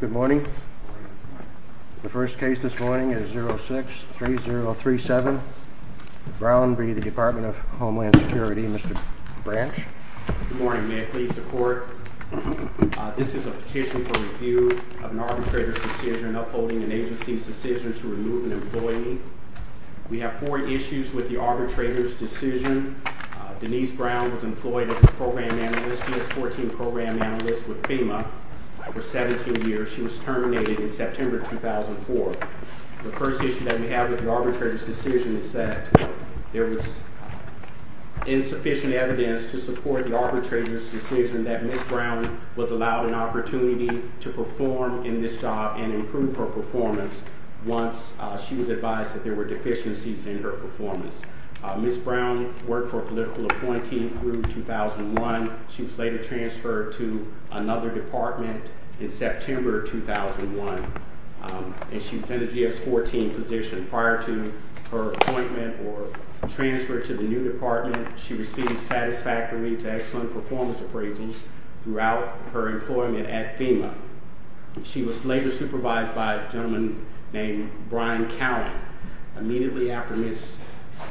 Good morning. The first case this morning is 06-3037. Brown v. the Department of Homeland Security. Mr. Branch. Good morning. May it please the court, this is a petition for review of an arbitrator's decision upholding an agency's decision to remove an employee. We have four issues with the arbitrator's decision. Denise Brown was employed as a program manager. This analyst with FEMA for 17 years. She was terminated in September 2004. The first issue that we have with the arbitrator's decision is that there was insufficient evidence to support the arbitrator's decision that Ms. Brown was allowed an opportunity to perform in this job and improve her performance once she was advised that there were deficiencies in her performance. Ms. Brown worked for a political appointee through 2001. She was later transferred to another department in September 2001 and she was in a GS-14 position. Prior to her appointment or transfer to the new department, she received satisfactory to excellent performance appraisals throughout her employment at FEMA. She was later supervised by a gentleman named Brian Cowan. Immediately after Ms.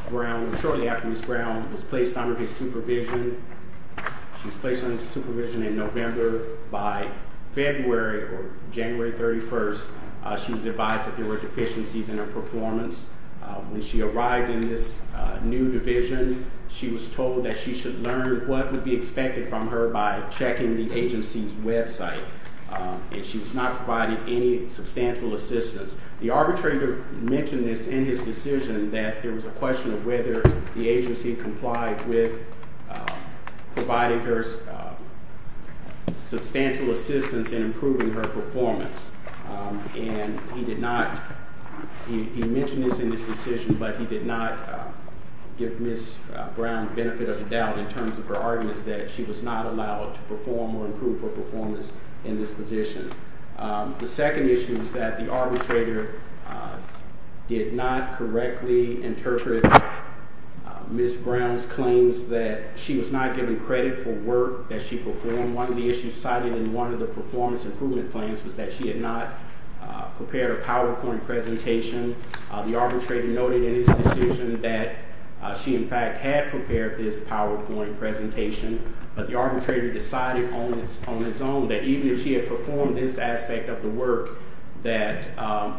Brown, shortly after Ms. Brown was placed on his supervision in November, by February or January 31st, she was advised that there were deficiencies in her performance. When she arrived in this new division, she was told that she should learn what would be expected from her by checking the agency's website. She was not provided any substantial assistance. The arbitrator mentioned this in his decision that there was a question of whether the agency complied with providing her substantial assistance in improving her performance. And he did not, he mentioned this in his decision, but he did not give Ms. Brown benefit of the doubt in terms of her arguments that she was not allowed to perform or improve her performance in this position. The second issue is that the arbitrator did not correctly interpret Ms. Brown's claims that she was not given credit for work that she performed. One of the issues cited in one of the performance improvement plans was that she had not prepared a PowerPoint presentation. The arbitrator noted in his decision that she, in fact, had prepared this PowerPoint presentation, but the arbitrator decided on his own that even if she had performed this aspect of the work, that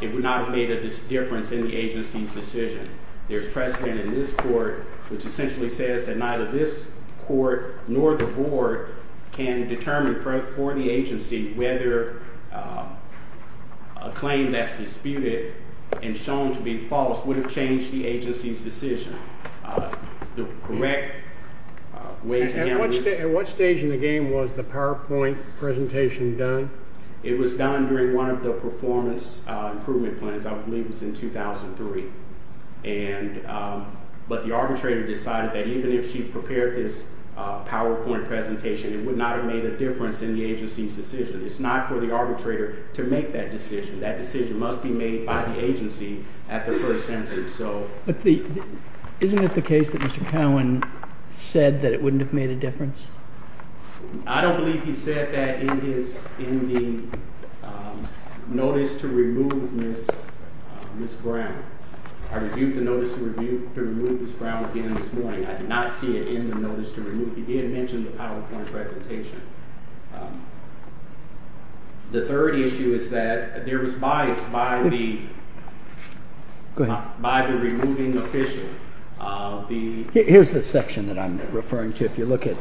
it would not have made a difference in the agency's decision. There's precedent in this court which essentially says that neither this court nor the board can determine for the agency whether a claim that's disputed and shown to be false would have changed the agency's decision. The correct way to handle this... At what stage in the game was the PowerPoint presentation done? It was done during one of the performance improvement plans, I believe it was in 2003. And, but the arbitrator decided that even if she prepared this PowerPoint presentation, it would not have made a difference in the agency's decision. It's not for the arbitrator to make that decision. That decision must be made by the agency at the first sentence, so... But the, isn't it the case that Mr. Cowen said that it wouldn't have made a difference? I don't believe he said that in his, in the notice to remove Ms. Brown. I reviewed the notice to remove Ms. Brown again this morning. I did not see it in the notice to remove. He did mention the PowerPoint presentation. The third issue is that there was bias by the... Go ahead. By the removing official of the... Here's the section that I'm referring to. If you look at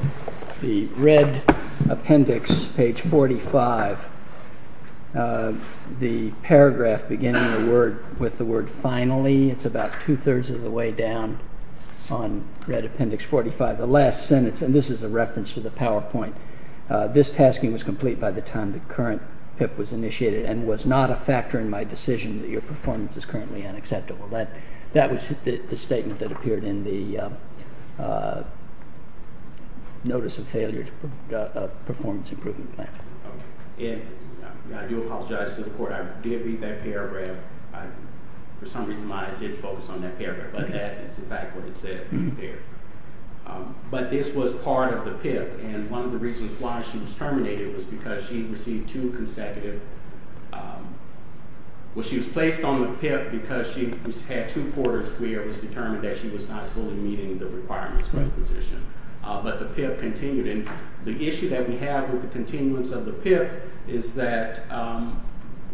the red appendix, page 45, the paragraph beginning the word, with the word finally, it's about two-thirds of the way down on red appendix 45. The last sentence, and this is a reference to the PowerPoint, this tasking was complete by the time the current PIP was initiated and was not a factor in my decision that your performance is currently unacceptable. That was the statement that appeared in the notice of failure of performance improvement plan. I do apologize to the court. I did read that paragraph. For some reason, I did focus on that paragraph, but that is in fact what it said there. But this was part of the PIP, and one of the reasons why she was terminated was because she received two consecutive... Well, she was placed on the PIP because she had two quarters where it was determined that she was not fully meeting the requirements for the position. But the PIP continued, and the issue that we have with the continuance of the PIP is that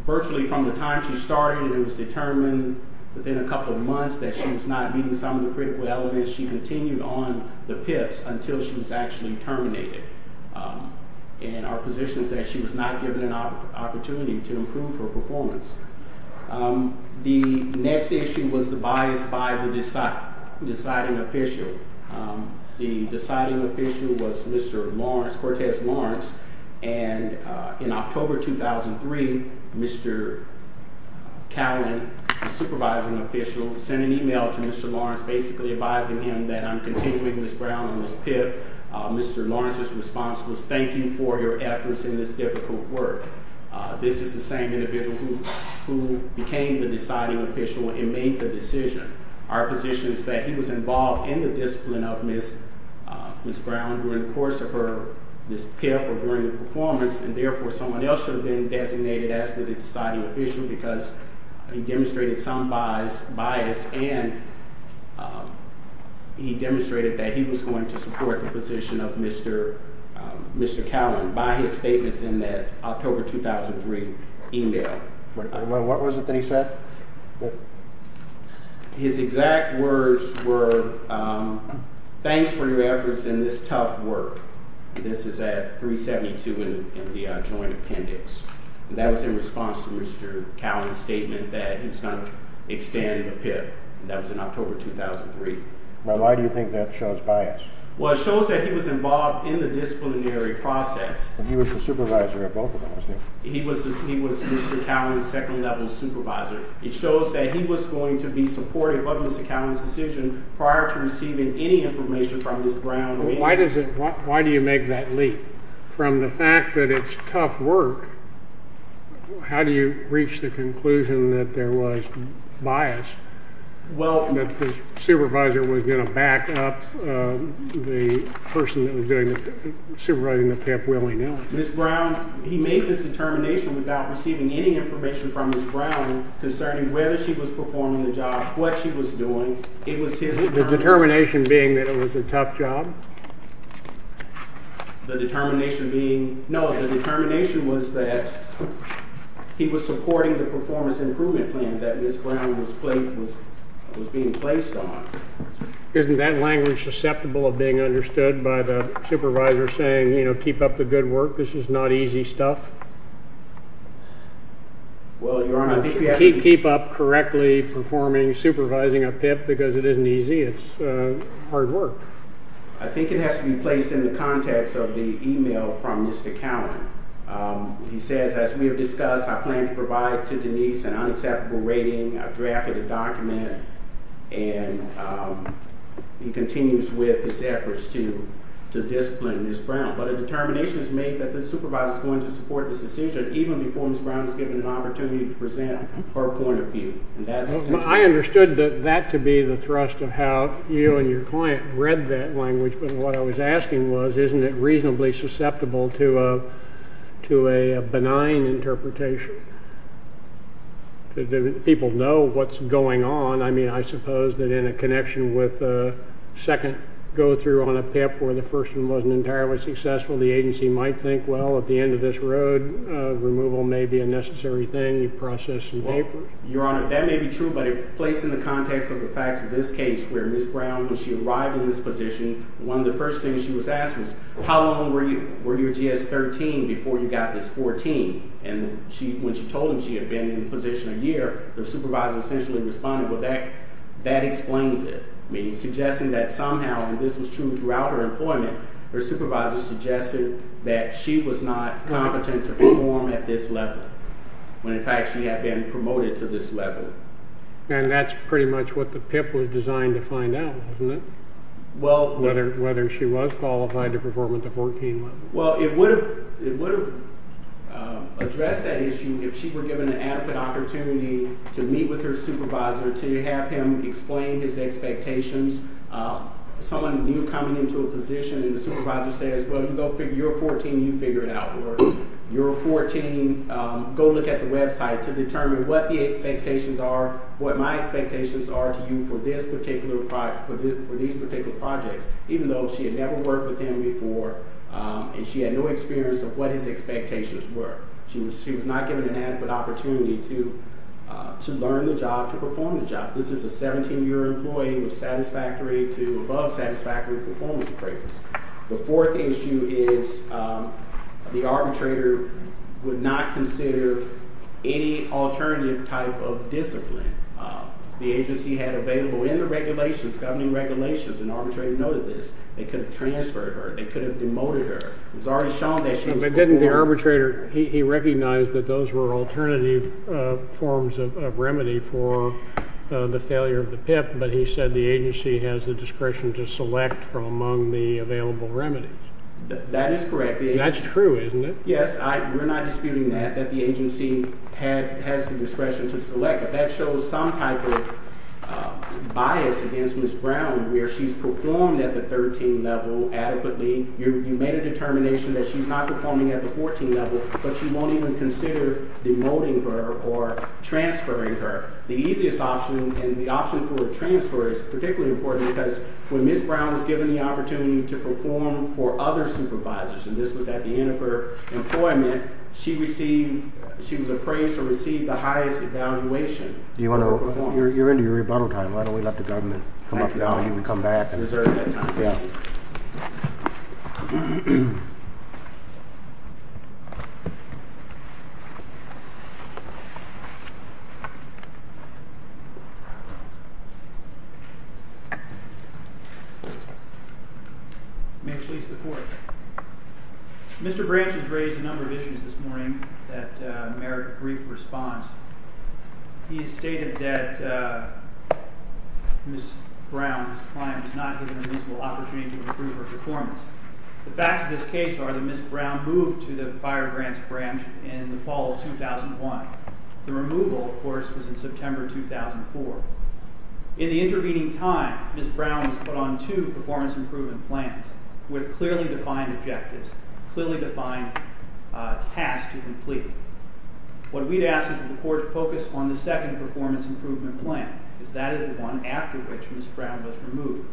virtually from the time she started, it was determined within a couple of months that she was not meeting some of the critical elements. She continued on the PIPs until she was actually terminated, and our position is that she was not given an opportunity to improve her performance. The next issue was the bias by the deciding official. The deciding official was Mr. Lawrence, Cortez Lawrence, and in October 2003, Mr. Callen, the supervising official, sent an email to Mr. Lawrence basically advising him that I'm continuing Ms. Brown and Ms. PIP. Mr. Lawrence's response was, thank you for your efforts in this difficult work. This is the same individual who became the deciding official and made the decision. Our position is that he was involved in the discipline of Ms. Brown during the course of her, Ms. PIP or during the performance, and therefore someone else should have been designated as the deciding official because he demonstrated some bias, and he demonstrated that he was going to support the position of Mr. Callen by his statements in that October 2003 email. What was it that he said? His exact words were, thanks for your efforts in this tough work. This is at 372 in the joint appendix. That was in response to Mr. Callen's statement that he was going to extend the PIP. That was in October 2003. Why do you think that shows bias? Well, it shows that he was involved in the disciplinary process. He was the supervisor of both of those things. He was Mr. Callen's second level supervisor. It shows that he was going to be supportive of Mr. Callen's decision prior to receiving any information from Ms. Brown. Why do you make that leap from the fact that it's tough work? How do you reach the conclusion that there was bias, that the supervisor was going to back up the person that was supervising the PIP willingly? Ms. Brown, he made this determination without receiving any information from Ms. Brown concerning whether she was performing the job, what she was doing. The determination being that it was a tough job? No, the determination was that he was supporting the performance improvement plan that Ms. Brown was being placed on. Isn't that language susceptible of being understood by the supervisor saying, you know, keep up the good work, this is not easy stuff? Well, Your Honor, I think you have to be… Keep up correctly performing supervising a PIP because it isn't easy, it's hard work. I think it has to be placed in the context of the email from Mr. Callen. He says, as we have discussed, I plan to provide to Denise an unacceptable rating, I've drafted a document, and he continues with his efforts to discipline Ms. Brown. But a determination is made that the supervisor is going to support this decision even before Ms. Brown is given an opportunity to present her point of view. I understood that to be the thrust of how you and your client read that language, but what I was asking was, isn't it reasonably susceptible to a benign interpretation? People know what's going on. I mean, I suppose that in a connection with a second go-through on a PIP where the first one wasn't entirely successful, the agency might think, well, at the end of this road, removal may be a necessary thing, you process some papers. Your Honor, that may be true, but placed in the context of the facts of this case where Ms. Brown, when she arrived in this position, one of the first things she was asked was, how long were your GS-13 before you got this 14? And when she told him she had been in the position a year, the supervisor essentially responded, well, that explains it. I mean, suggesting that somehow, and this was true throughout her employment, her supervisor suggested that she was not competent to perform at this level when in fact she had been promoted to this level. And that's pretty much what the PIP was designed to find out, wasn't it? Whether she was qualified to perform at the 14 level. Well, it would have addressed that issue if she were given an adequate opportunity to meet with her supervisor to have him explain his expectations. Someone new coming into a position and the supervisor says, well, you're a 14, you figure it out, or you're a 14, go look at the website to determine what the expectations are, what my expectations are to you for these particular projects. Even though she had never worked with him before and she had no experience of what his expectations were. She was not given an adequate opportunity to learn the job, to perform the job. This is a 17-year employee with satisfactory to above satisfactory performance appraisals. The fourth issue is the arbitrator would not consider any alternative type of discipline. The agency had available in the regulations, governing regulations, and the arbitrator noted this, they could have transferred her, they could have demoted her. It was already shown that she was. But didn't the arbitrator, he recognized that those were alternative forms of remedy for the failure of the PIP, but he said the agency has the discretion to select from among the available remedies. That is correct. That's true, isn't it? Yes, we're not disputing that, that the agency has the discretion to select, but that shows some type of bias against Ms. Brown where she's performed at the 13 level adequately. You made a determination that she's not performing at the 14 level, but you won't even consider demoting her or transferring her. The easiest option and the option for a transfer is particularly important because when Ms. Brown was given the opportunity to perform for other supervisors, and this was at the end of her employment, she received, she was appraised to receive the highest evaluation. You're into your rebuttal time, why don't we let the government come up with an argument and come back. I deserve that time. Yeah. May it please the Court. Mr. Branch has raised a number of issues this morning that merit a brief response. He stated that Ms. Brown, his client, was not given a reasonable opportunity to improve her performance. The facts of this case are that Ms. Brown moved to the Fire Grants Branch in the fall of 2001. The removal, of course, was in September 2004. In the intervening time, Ms. Brown was put on two performance improvement plans with clearly defined objectives, clearly defined tasks to complete. What we'd ask is that the Court focus on the second performance improvement plan because that is the one after which Ms. Brown was removed.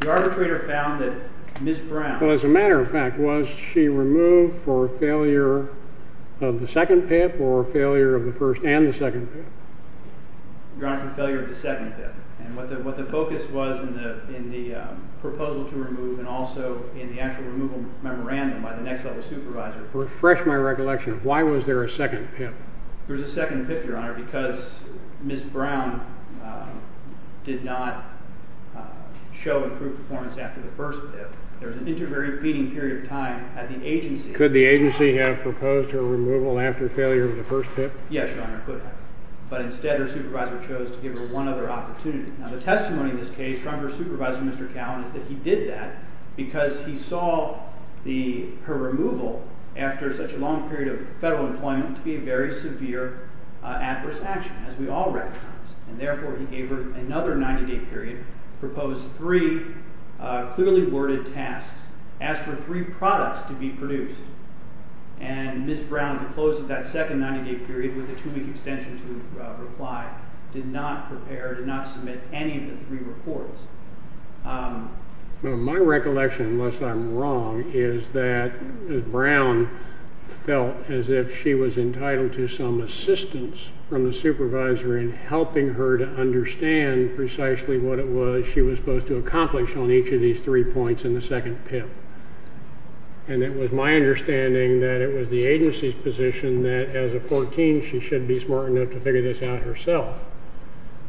The arbitrator found that Ms. Brown Well, as a matter of fact, was she removed for failure of the second PIP or failure of the first and the second PIP? Your Honor, for failure of the second PIP. And what the focus was in the proposal to remove and also in the actual removal memorandum by the next level supervisor Refresh my recollection. Why was there a second PIP? There was a second PIP, Your Honor, because Ms. Brown did not show improved performance after the first PIP. There was an inter-repeating period of time at the agency Could the agency have proposed her removal after failure of the first PIP? Yes, Your Honor, it could have. But instead, her supervisor chose to give her one other opportunity. Now, the testimony in this case from her supervisor, Mr. Cowen, is that he did that because he saw her removal after such a long period of federal employment to be a very severe adverse action, as we all recognize. And therefore, he gave her another 90-day period, proposed three clearly worded tasks, asked for three products to be produced. And Ms. Brown, at the close of that second 90-day period, with a two-week extension to reply, did not prepare, did not submit any of the three reports. My recollection, unless I'm wrong, is that Ms. Brown felt as if she was entitled to some assistance from the supervisor in helping her to understand precisely what it was she was supposed to accomplish on each of these three points in the second PIP. And it was my understanding that it was the agency's position that, as a 14, she should be smart enough to figure this out herself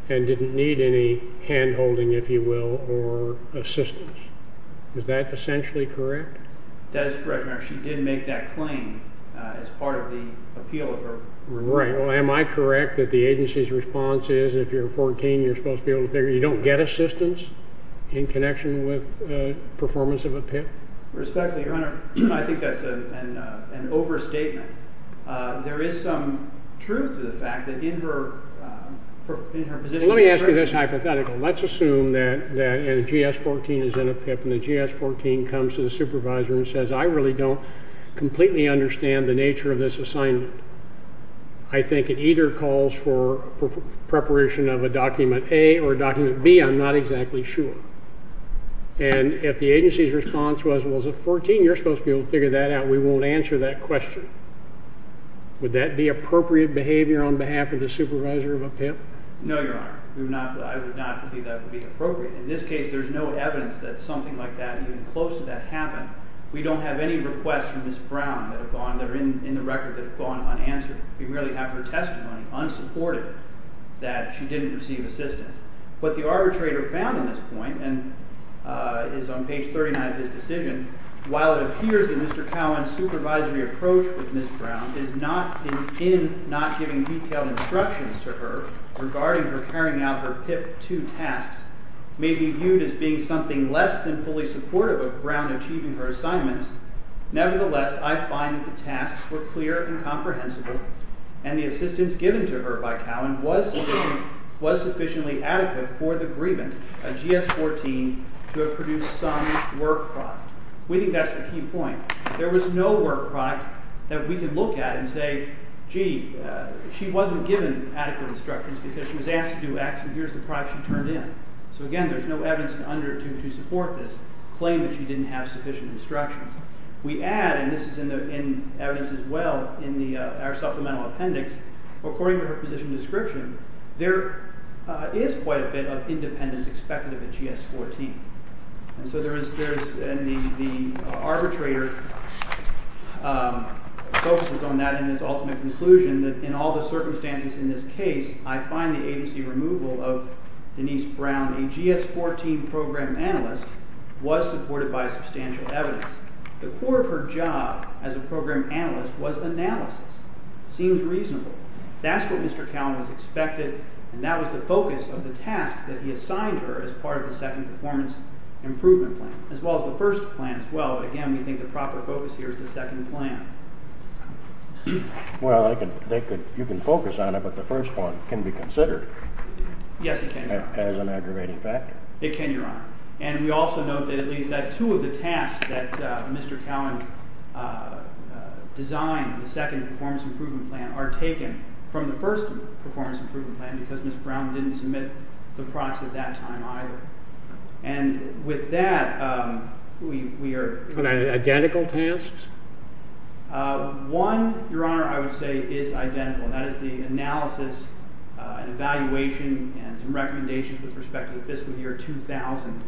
and didn't need any hand-holding, if you will, or assistance. Is that essentially correct? That is correct, Your Honor. She did make that claim as part of the appeal of her removal. Right. Well, am I correct that the agency's response is, if you're 14, you're supposed to be able to figure it out? Or you don't get assistance in connection with performance of a PIP? Respectfully, Your Honor, I think that's an overstatement. There is some truth to the fact that in her position... Well, let me ask you this hypothetical. Let's assume that a GS-14 is in a PIP and the GS-14 comes to the supervisor and says, I really don't completely understand the nature of this assignment. I think it either calls for preparation of a Document A or a Document B. I'm not exactly sure. And if the agency's response was, well, as a 14, you're supposed to be able to figure that out, we won't answer that question. Would that be appropriate behavior on behalf of the supervisor of a PIP? No, Your Honor. I would not believe that would be appropriate. In this case, there's no evidence that something like that, even close to that, happened. We don't have any requests from Ms. Brown that are in the record that have gone unanswered. We merely have her testimony, unsupported, that she didn't receive assistance. What the arbitrator found in this point, and is on page 39 of his decision, while it appears that Mr. Cowan's supervisory approach with Ms. Brown is not in not giving detailed instructions to her regarding her carrying out her PIP-2 tasks, may be viewed as being something less than fully supportive of Brown achieving her assignments, nevertheless, I find that the tasks were clear and comprehensible, and the assistance given to her by Cowan was sufficiently adequate for the grievant, a GS-14, to have produced some work product. We think that's the key point. If there was no work product that we could look at and say, gee, she wasn't given adequate instructions because she was asked to do X, and here's the product she turned in. So again, there's no evidence to support this claim that she didn't have sufficient instructions. We add, and this is in evidence as well in our supplemental appendix, according to her position description, there is quite a bit of independence expected of a GS-14. And so the arbitrator focuses on that in his ultimate conclusion, that in all the circumstances in this case, I find the agency removal of Denise Brown, a GS-14 program analyst, was supported by substantial evidence. The core of her job as a program analyst was analysis. It seems reasonable. That's what Mr. Cowan was expected, and that was the focus of the tasks that he assigned her as part of the second performance improvement plan, as well as the first plan as well. Again, we think the proper focus here is the second plan. Well, you can focus on it, but the first one can be considered. Yes, it can, Your Honor. As an aggravating factor. It can, Your Honor. And we also note that at least that two of the tasks that Mr. Cowan designed, the second performance improvement plan, are taken from the first performance improvement plan because Ms. Brown didn't submit the products at that time either. And with that, we are— Identical tasks? One, Your Honor, I would say is identical, and that is the analysis and evaluation and some recommendations with respect to the fiscal year 2000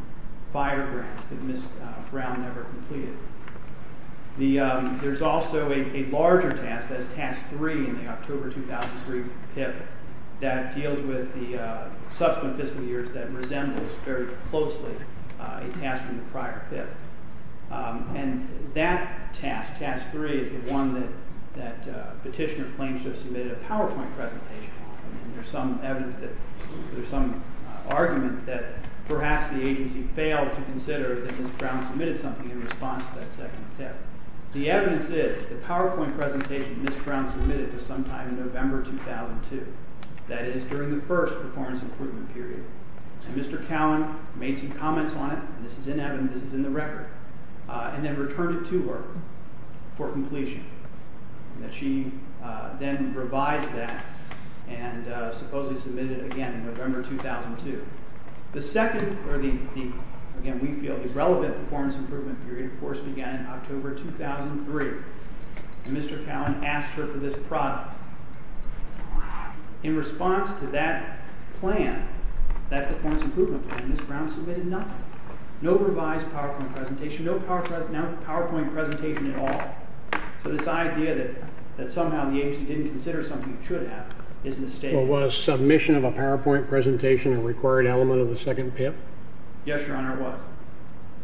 fire grants that Ms. Brown never completed. There's also a larger task, that is Task 3 in the October 2003 PIP, that deals with the subsequent fiscal years that resembles very closely a task from the prior PIP. And that task, Task 3, is the one that Petitioner claims to have submitted a PowerPoint presentation on. There's some evidence that—there's some argument that perhaps the agency failed to consider that Ms. Brown submitted something in response to that second PIP. The evidence is that the PowerPoint presentation Ms. Brown submitted was sometime in November 2002. That is during the first performance improvement period. And Mr. Cowan made some comments on it. This is in evidence. This is in the record. And then returned it to her for completion. And that she then revised that and supposedly submitted it again in November 2002. The second—or, again, we feel the relevant performance improvement period, of course, began in October 2003. And Mr. Cowan asked her for this product. In response to that plan, that performance improvement plan, Ms. Brown submitted nothing. No revised PowerPoint presentation. No PowerPoint presentation at all. So this idea that somehow the agency didn't consider something it should have is mistaken. So was submission of a PowerPoint presentation a required element of the second PIP? Yes, Your Honor, it was.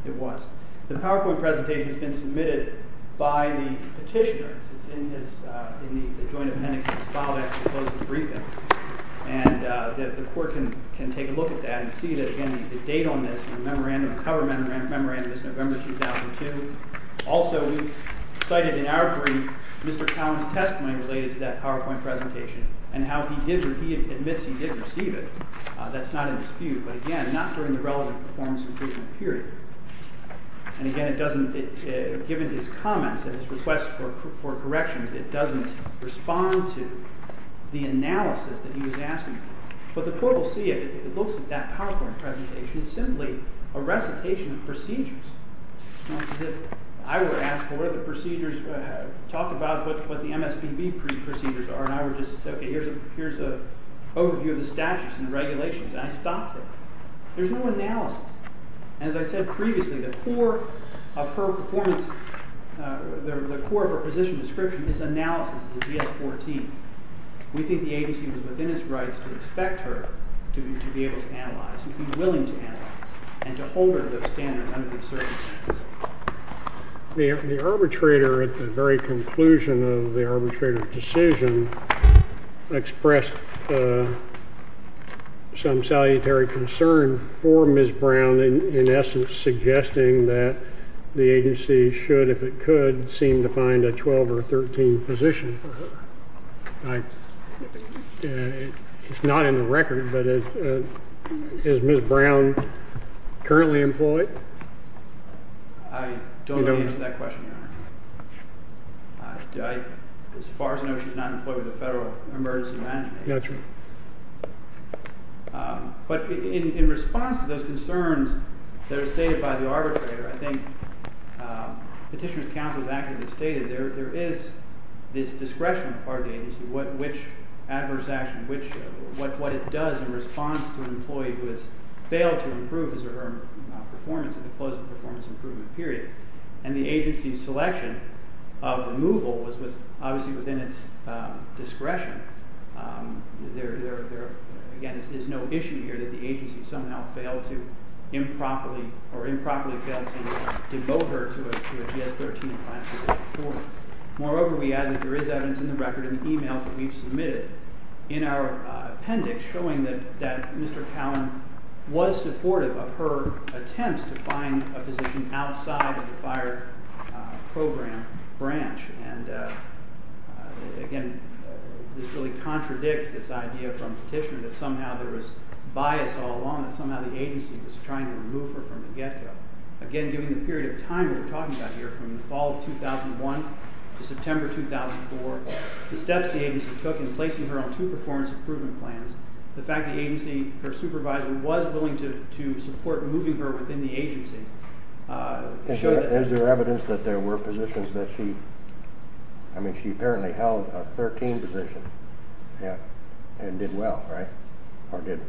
It was. The PowerPoint presentation has been submitted by the petitioner. It's in his—in the joint appendix of his file that actually closes the briefing. And the court can take a look at that and see that, again, the date on this, the memorandum, the cover memorandum is November 2002. Also, we cited in our brief Mr. Cowan's testimony related to that PowerPoint presentation and how he admits he did receive it. That's not in dispute. But again, not during the relevant performance improvement period. And again, it doesn't—given his comments and his request for corrections, it doesn't respond to the analysis that he was asking for. But the court will see if it looks at that PowerPoint presentation, it's simply a recitation of procedures. It's as if I were to ask for the procedures, talk about what the MSPB procedures are, and I were just to say, okay, here's an overview of the statutes and regulations, and I stopped there. There's no analysis. As I said previously, the core of her performance—the core of her position description is analysis of the GS-14. We think the agency was within its rights to expect her to be able to analyze and to hold her to those standards under the circumstances. The arbitrator at the very conclusion of the arbitrator's decision expressed some salutary concern for Ms. Brown, in essence suggesting that the agency should, if it could, seem to find a 12 or 13 position for her. It's not in the record, but is Ms. Brown currently employed? I don't know the answer to that question, Your Honor. As far as I know, she's not employed with the Federal Emergency Management Agency. But in response to those concerns that are stated by the arbitrator, I think Petitioner's counsel has accurately stated there is this discretion on the part of the agency, which adverse action, what it does in response to an employee who has failed to improve his or her performance at the close of the performance improvement period, and the agency's selection of removal was obviously within its discretion. There, again, is no issue here that the agency somehow failed to improperly or improperly failed to devote her to a GS-13 plan. Moreover, we add that there is evidence in the record in the emails that we've submitted in our appendix showing that Mr. Cowan was supportive of her attempts to find a position outside of the FIRE program branch. And, again, this really contradicts this idea from Petitioner that somehow there was bias all along, that somehow the agency was trying to remove her from the get-go. Again, during the period of time that we're talking about here, from the fall of 2001 to September 2004, the steps the agency took in placing her on two performance improvement plans, the fact the agency, her supervisor, was willing to support moving her within the agency, Is there evidence that there were positions that she, I mean, she apparently held a 13 position and did well, right, or did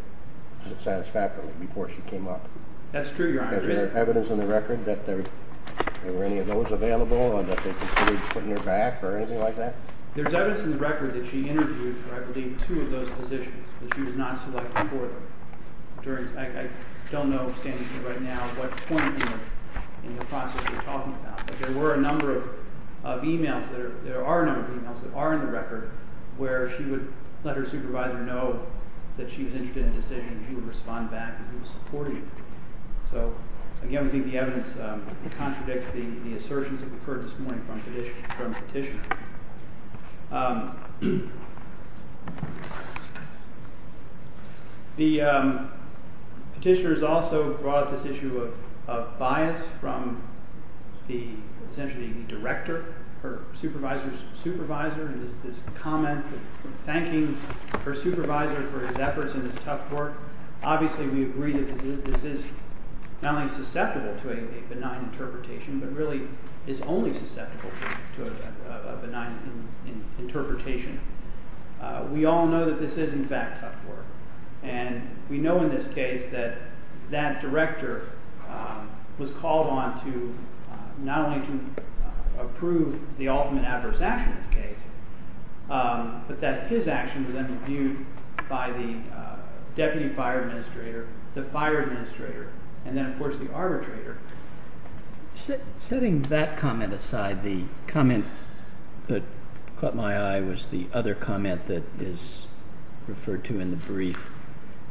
satisfactorily before she came up? That's true, Your Honor. Is there evidence in the record that there were any of those available, or that they considered putting her back, or anything like that? There's evidence in the record that she interviewed for, I believe, two of those positions, but she was not selected for them. I don't know, standing here right now, what point in the process we're talking about, but there were a number of e-mails, there are a number of e-mails that are in the record, where she would let her supervisor know that she was interested in a decision, and he would respond back, and he would support her. So, again, we think the evidence contradicts the assertions that we've heard this morning from Petitioner. The Petitioner has also brought up this issue of bias from, essentially, the director, her supervisor's supervisor, and this comment, thanking her supervisor for his efforts and his tough work. Obviously, we agree that this is not only susceptible to a benign interpretation, but really is only susceptible to a benign interpretation. We all know that this is, in fact, tough work, and we know in this case that that director was called on to not only to approve the ultimate adverse action in this case, but that his action was then reviewed by the Deputy Fire Administrator, the Fire Administrator, and then, of course, the arbitrator. Setting that comment aside, the comment that caught my eye was the other comment that is referred to in the brief.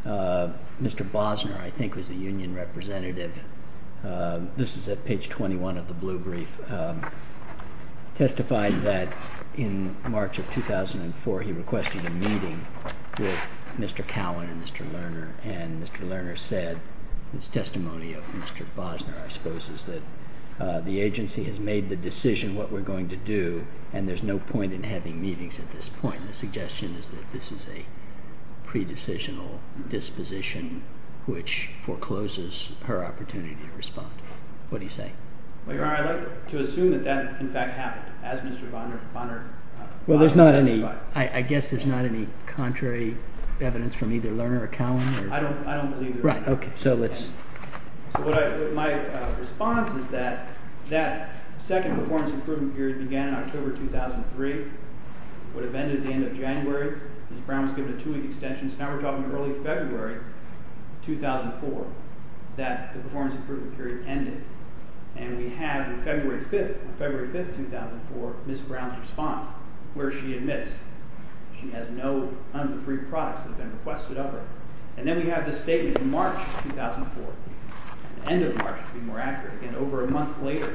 Mr. Bosner, I think, was the union representative. This is at page 21 of the blue brief, testified that in March of 2004, he requested a meeting with Mr. Cowan and Mr. Lerner, and Mr. Lerner said in his testimony of Mr. Bosner, I suppose, is that the agency has made the decision what we're going to do, and there's no point in having meetings at this point. The suggestion is that this is a pre-decisional disposition which forecloses her opportunity to respond. What do you say? Well, Your Honor, I'd like to assume that that, in fact, happened, as Mr. Bosner testified. I guess there's not any contrary evidence from either Lerner or Cowan? I don't believe there is. Right. Okay. So my response is that that second performance improvement period began in October 2003, would have ended at the end of January. Ms. Brown was given a two-week extension, so now we're talking early February 2004, that the performance improvement period ended, and we have in February 5th, 2004, Ms. Brown's response, where she admits she has no of the three products that have been requested of her. And then we have this statement in March 2004, the end of March to be more accurate, and over a month later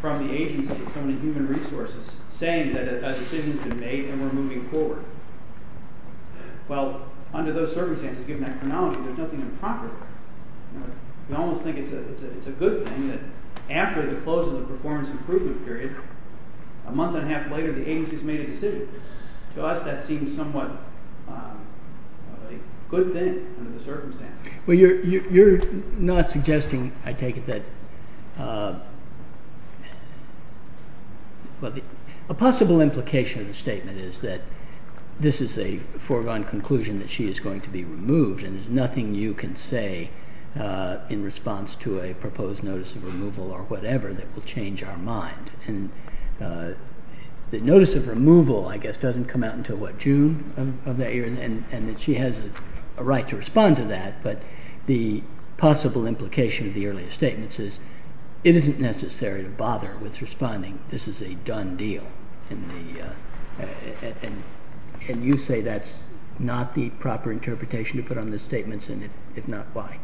from the agency, so many human resources, saying that a decision has been made and we're moving forward. Well, under those circumstances, given that chronology, there's nothing improper. We almost think it's a good thing that after the close of the performance improvement period, a month and a half later, the agency has made a decision. To us, that seems somewhat a good thing under the circumstances. Well, you're not suggesting, I take it, that a possible implication of the statement is that this is a foregone conclusion, that she is going to be removed, and there's nothing you can say in response to a proposed notice of removal or whatever that will change our mind. The notice of removal, I guess, doesn't come out until what, June of that year, and that she has a right to respond to that, but the possible implication of the earlier statement says it isn't necessary to bother with responding. This is a done deal, and you say that's not the proper interpretation to put on the statements, and if not, why?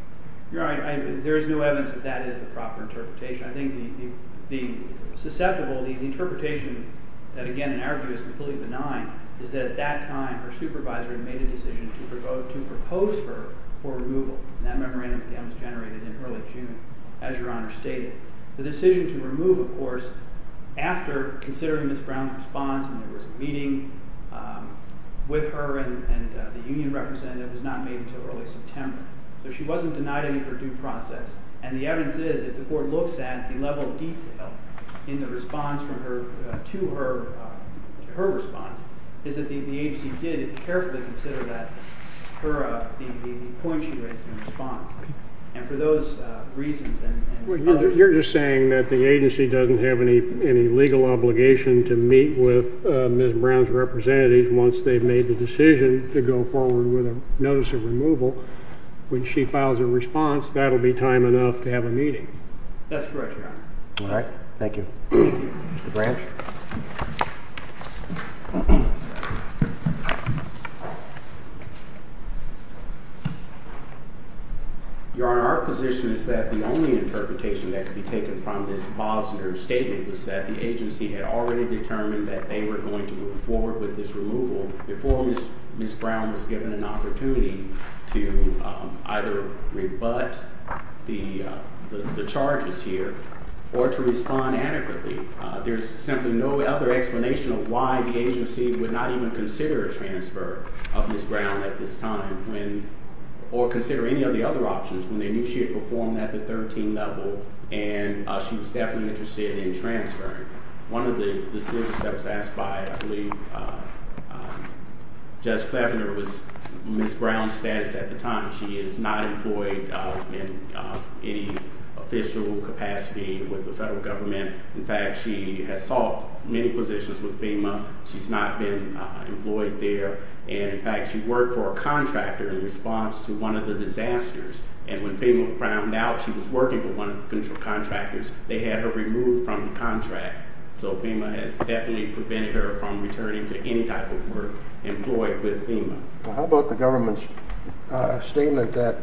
You're right. There is no evidence that that is the proper interpretation. I think the susceptible, the interpretation that, again, in our view is completely benign, is that at that time her supervisor had made a decision to propose her for removal, and that memorandum was generated in early June, as Your Honor stated. The decision to remove, of course, after considering Ms. Brown's response, and there was a meeting with her and the union representative, was not made until early September, so she wasn't denied any of her due process, and the evidence is, if the Court looks at the level of detail in the response from her to her response, is that the agency did carefully consider that, the point she raised in response, and for those reasons and others. But you're just saying that the agency doesn't have any legal obligation to meet with Ms. Brown's representatives once they've made the decision to go forward with a notice of removal. When she files a response, that will be time enough to have a meeting. That's correct, Your Honor. All right. Thank you. Mr. Branch. Thank you, Your Honor. Your Honor, our position is that the only interpretation that could be taken from this Bosner statement was that the agency had already determined that they were going to move forward with this removal before Ms. Brown was given an opportunity to either rebut the charges here or to respond adequately. There's simply no other explanation of why the agency would not even consider a transfer of Ms. Brown at this time, or consider any of the other options when they knew she had performed at the 13-level and she was definitely interested in transferring. One of the decisions that was asked by, I believe, Judge Kleffner was Ms. Brown's status at the time. She is not employed in any official capacity with the federal government. In fact, she has sought many positions with FEMA. She's not been employed there. In fact, she worked for a contractor in response to one of the disasters, and when FEMA found out she was working for one of the contractors, they had her removed from the contract. So FEMA has definitely prevented her from returning to any type of work employed with FEMA. How about the government's statement that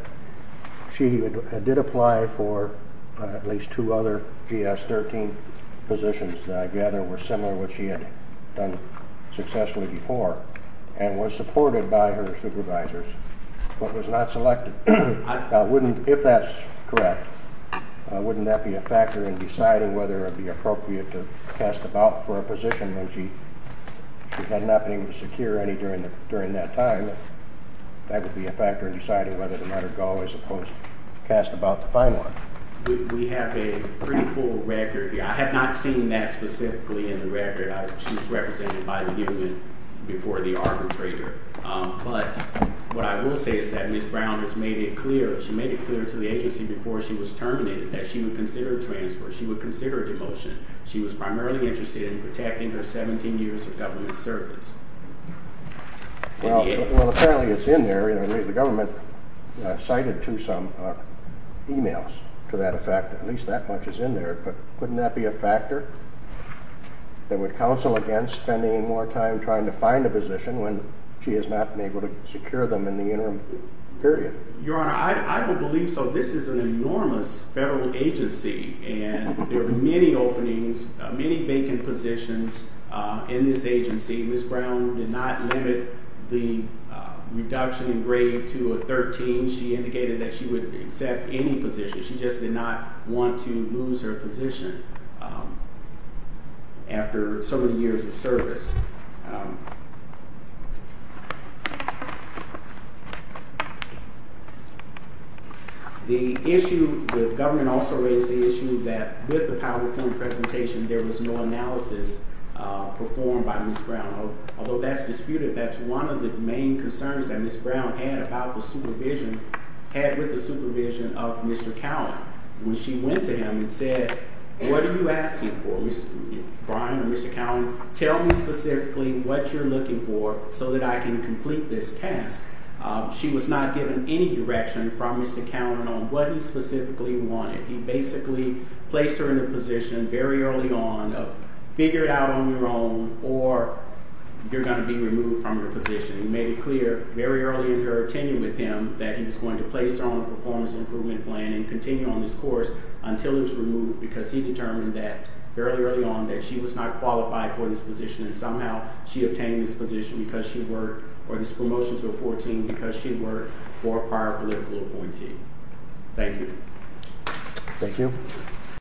she did apply for at least two other GS-13 positions that I gather were similar to what she had done successfully before and was supported by her supervisors but was not selected? If that's correct, wouldn't that be a factor in deciding whether it would be appropriate to cast a ballot for a position when she had not been able to secure any during that time? That would be a factor in deciding whether to let her go as opposed to cast a ballot to find one. We have a pretty full record. I have not seen that specifically in the record. She was represented by the government before the arbitrator. But what I will say is that Ms. Brown has made it clear, she made it clear to the agency before she was terminated that she would consider a transfer, she would consider a demotion. She was primarily interested in protecting her 17 years of government service. Well, apparently it's in there. The government cited to some emails to that effect that at least that much is in there. But wouldn't that be a factor that would counsel against spending more time trying to find a position when she has not been able to secure them in the interim period? Your Honor, I would believe so. This is an enormous federal agency, and there are many openings, many vacant positions in this agency. Ms. Brown did not limit the reduction in grade to a 13. She indicated that she would accept any position. She just did not want to lose her position after so many years of service. The issue, the government also raised the issue that with the PowerPoint presentation, there was no analysis performed by Ms. Brown. Although that's disputed, that's one of the main concerns that Ms. Brown had about the supervision, had with the supervision of Mr. Cowan. When she went to him and said, what are you asking for, Brian or Mr. Cowan? Tell me specifically what you're looking for so that I can complete this task. She was not given any direction from Mr. Cowan on what he specifically wanted. He basically placed her in a position very early on of figure it out on your own or you're going to be removed from your position. He made it clear very early in her tenure with him that he was going to place her on a performance improvement plan and continue on this course until it was removed because he determined that fairly early on that she was not qualified for this position. Somehow she obtained this position because she worked or this promotion to a 14 because she worked for a prior political appointee. Thank you. Thank you.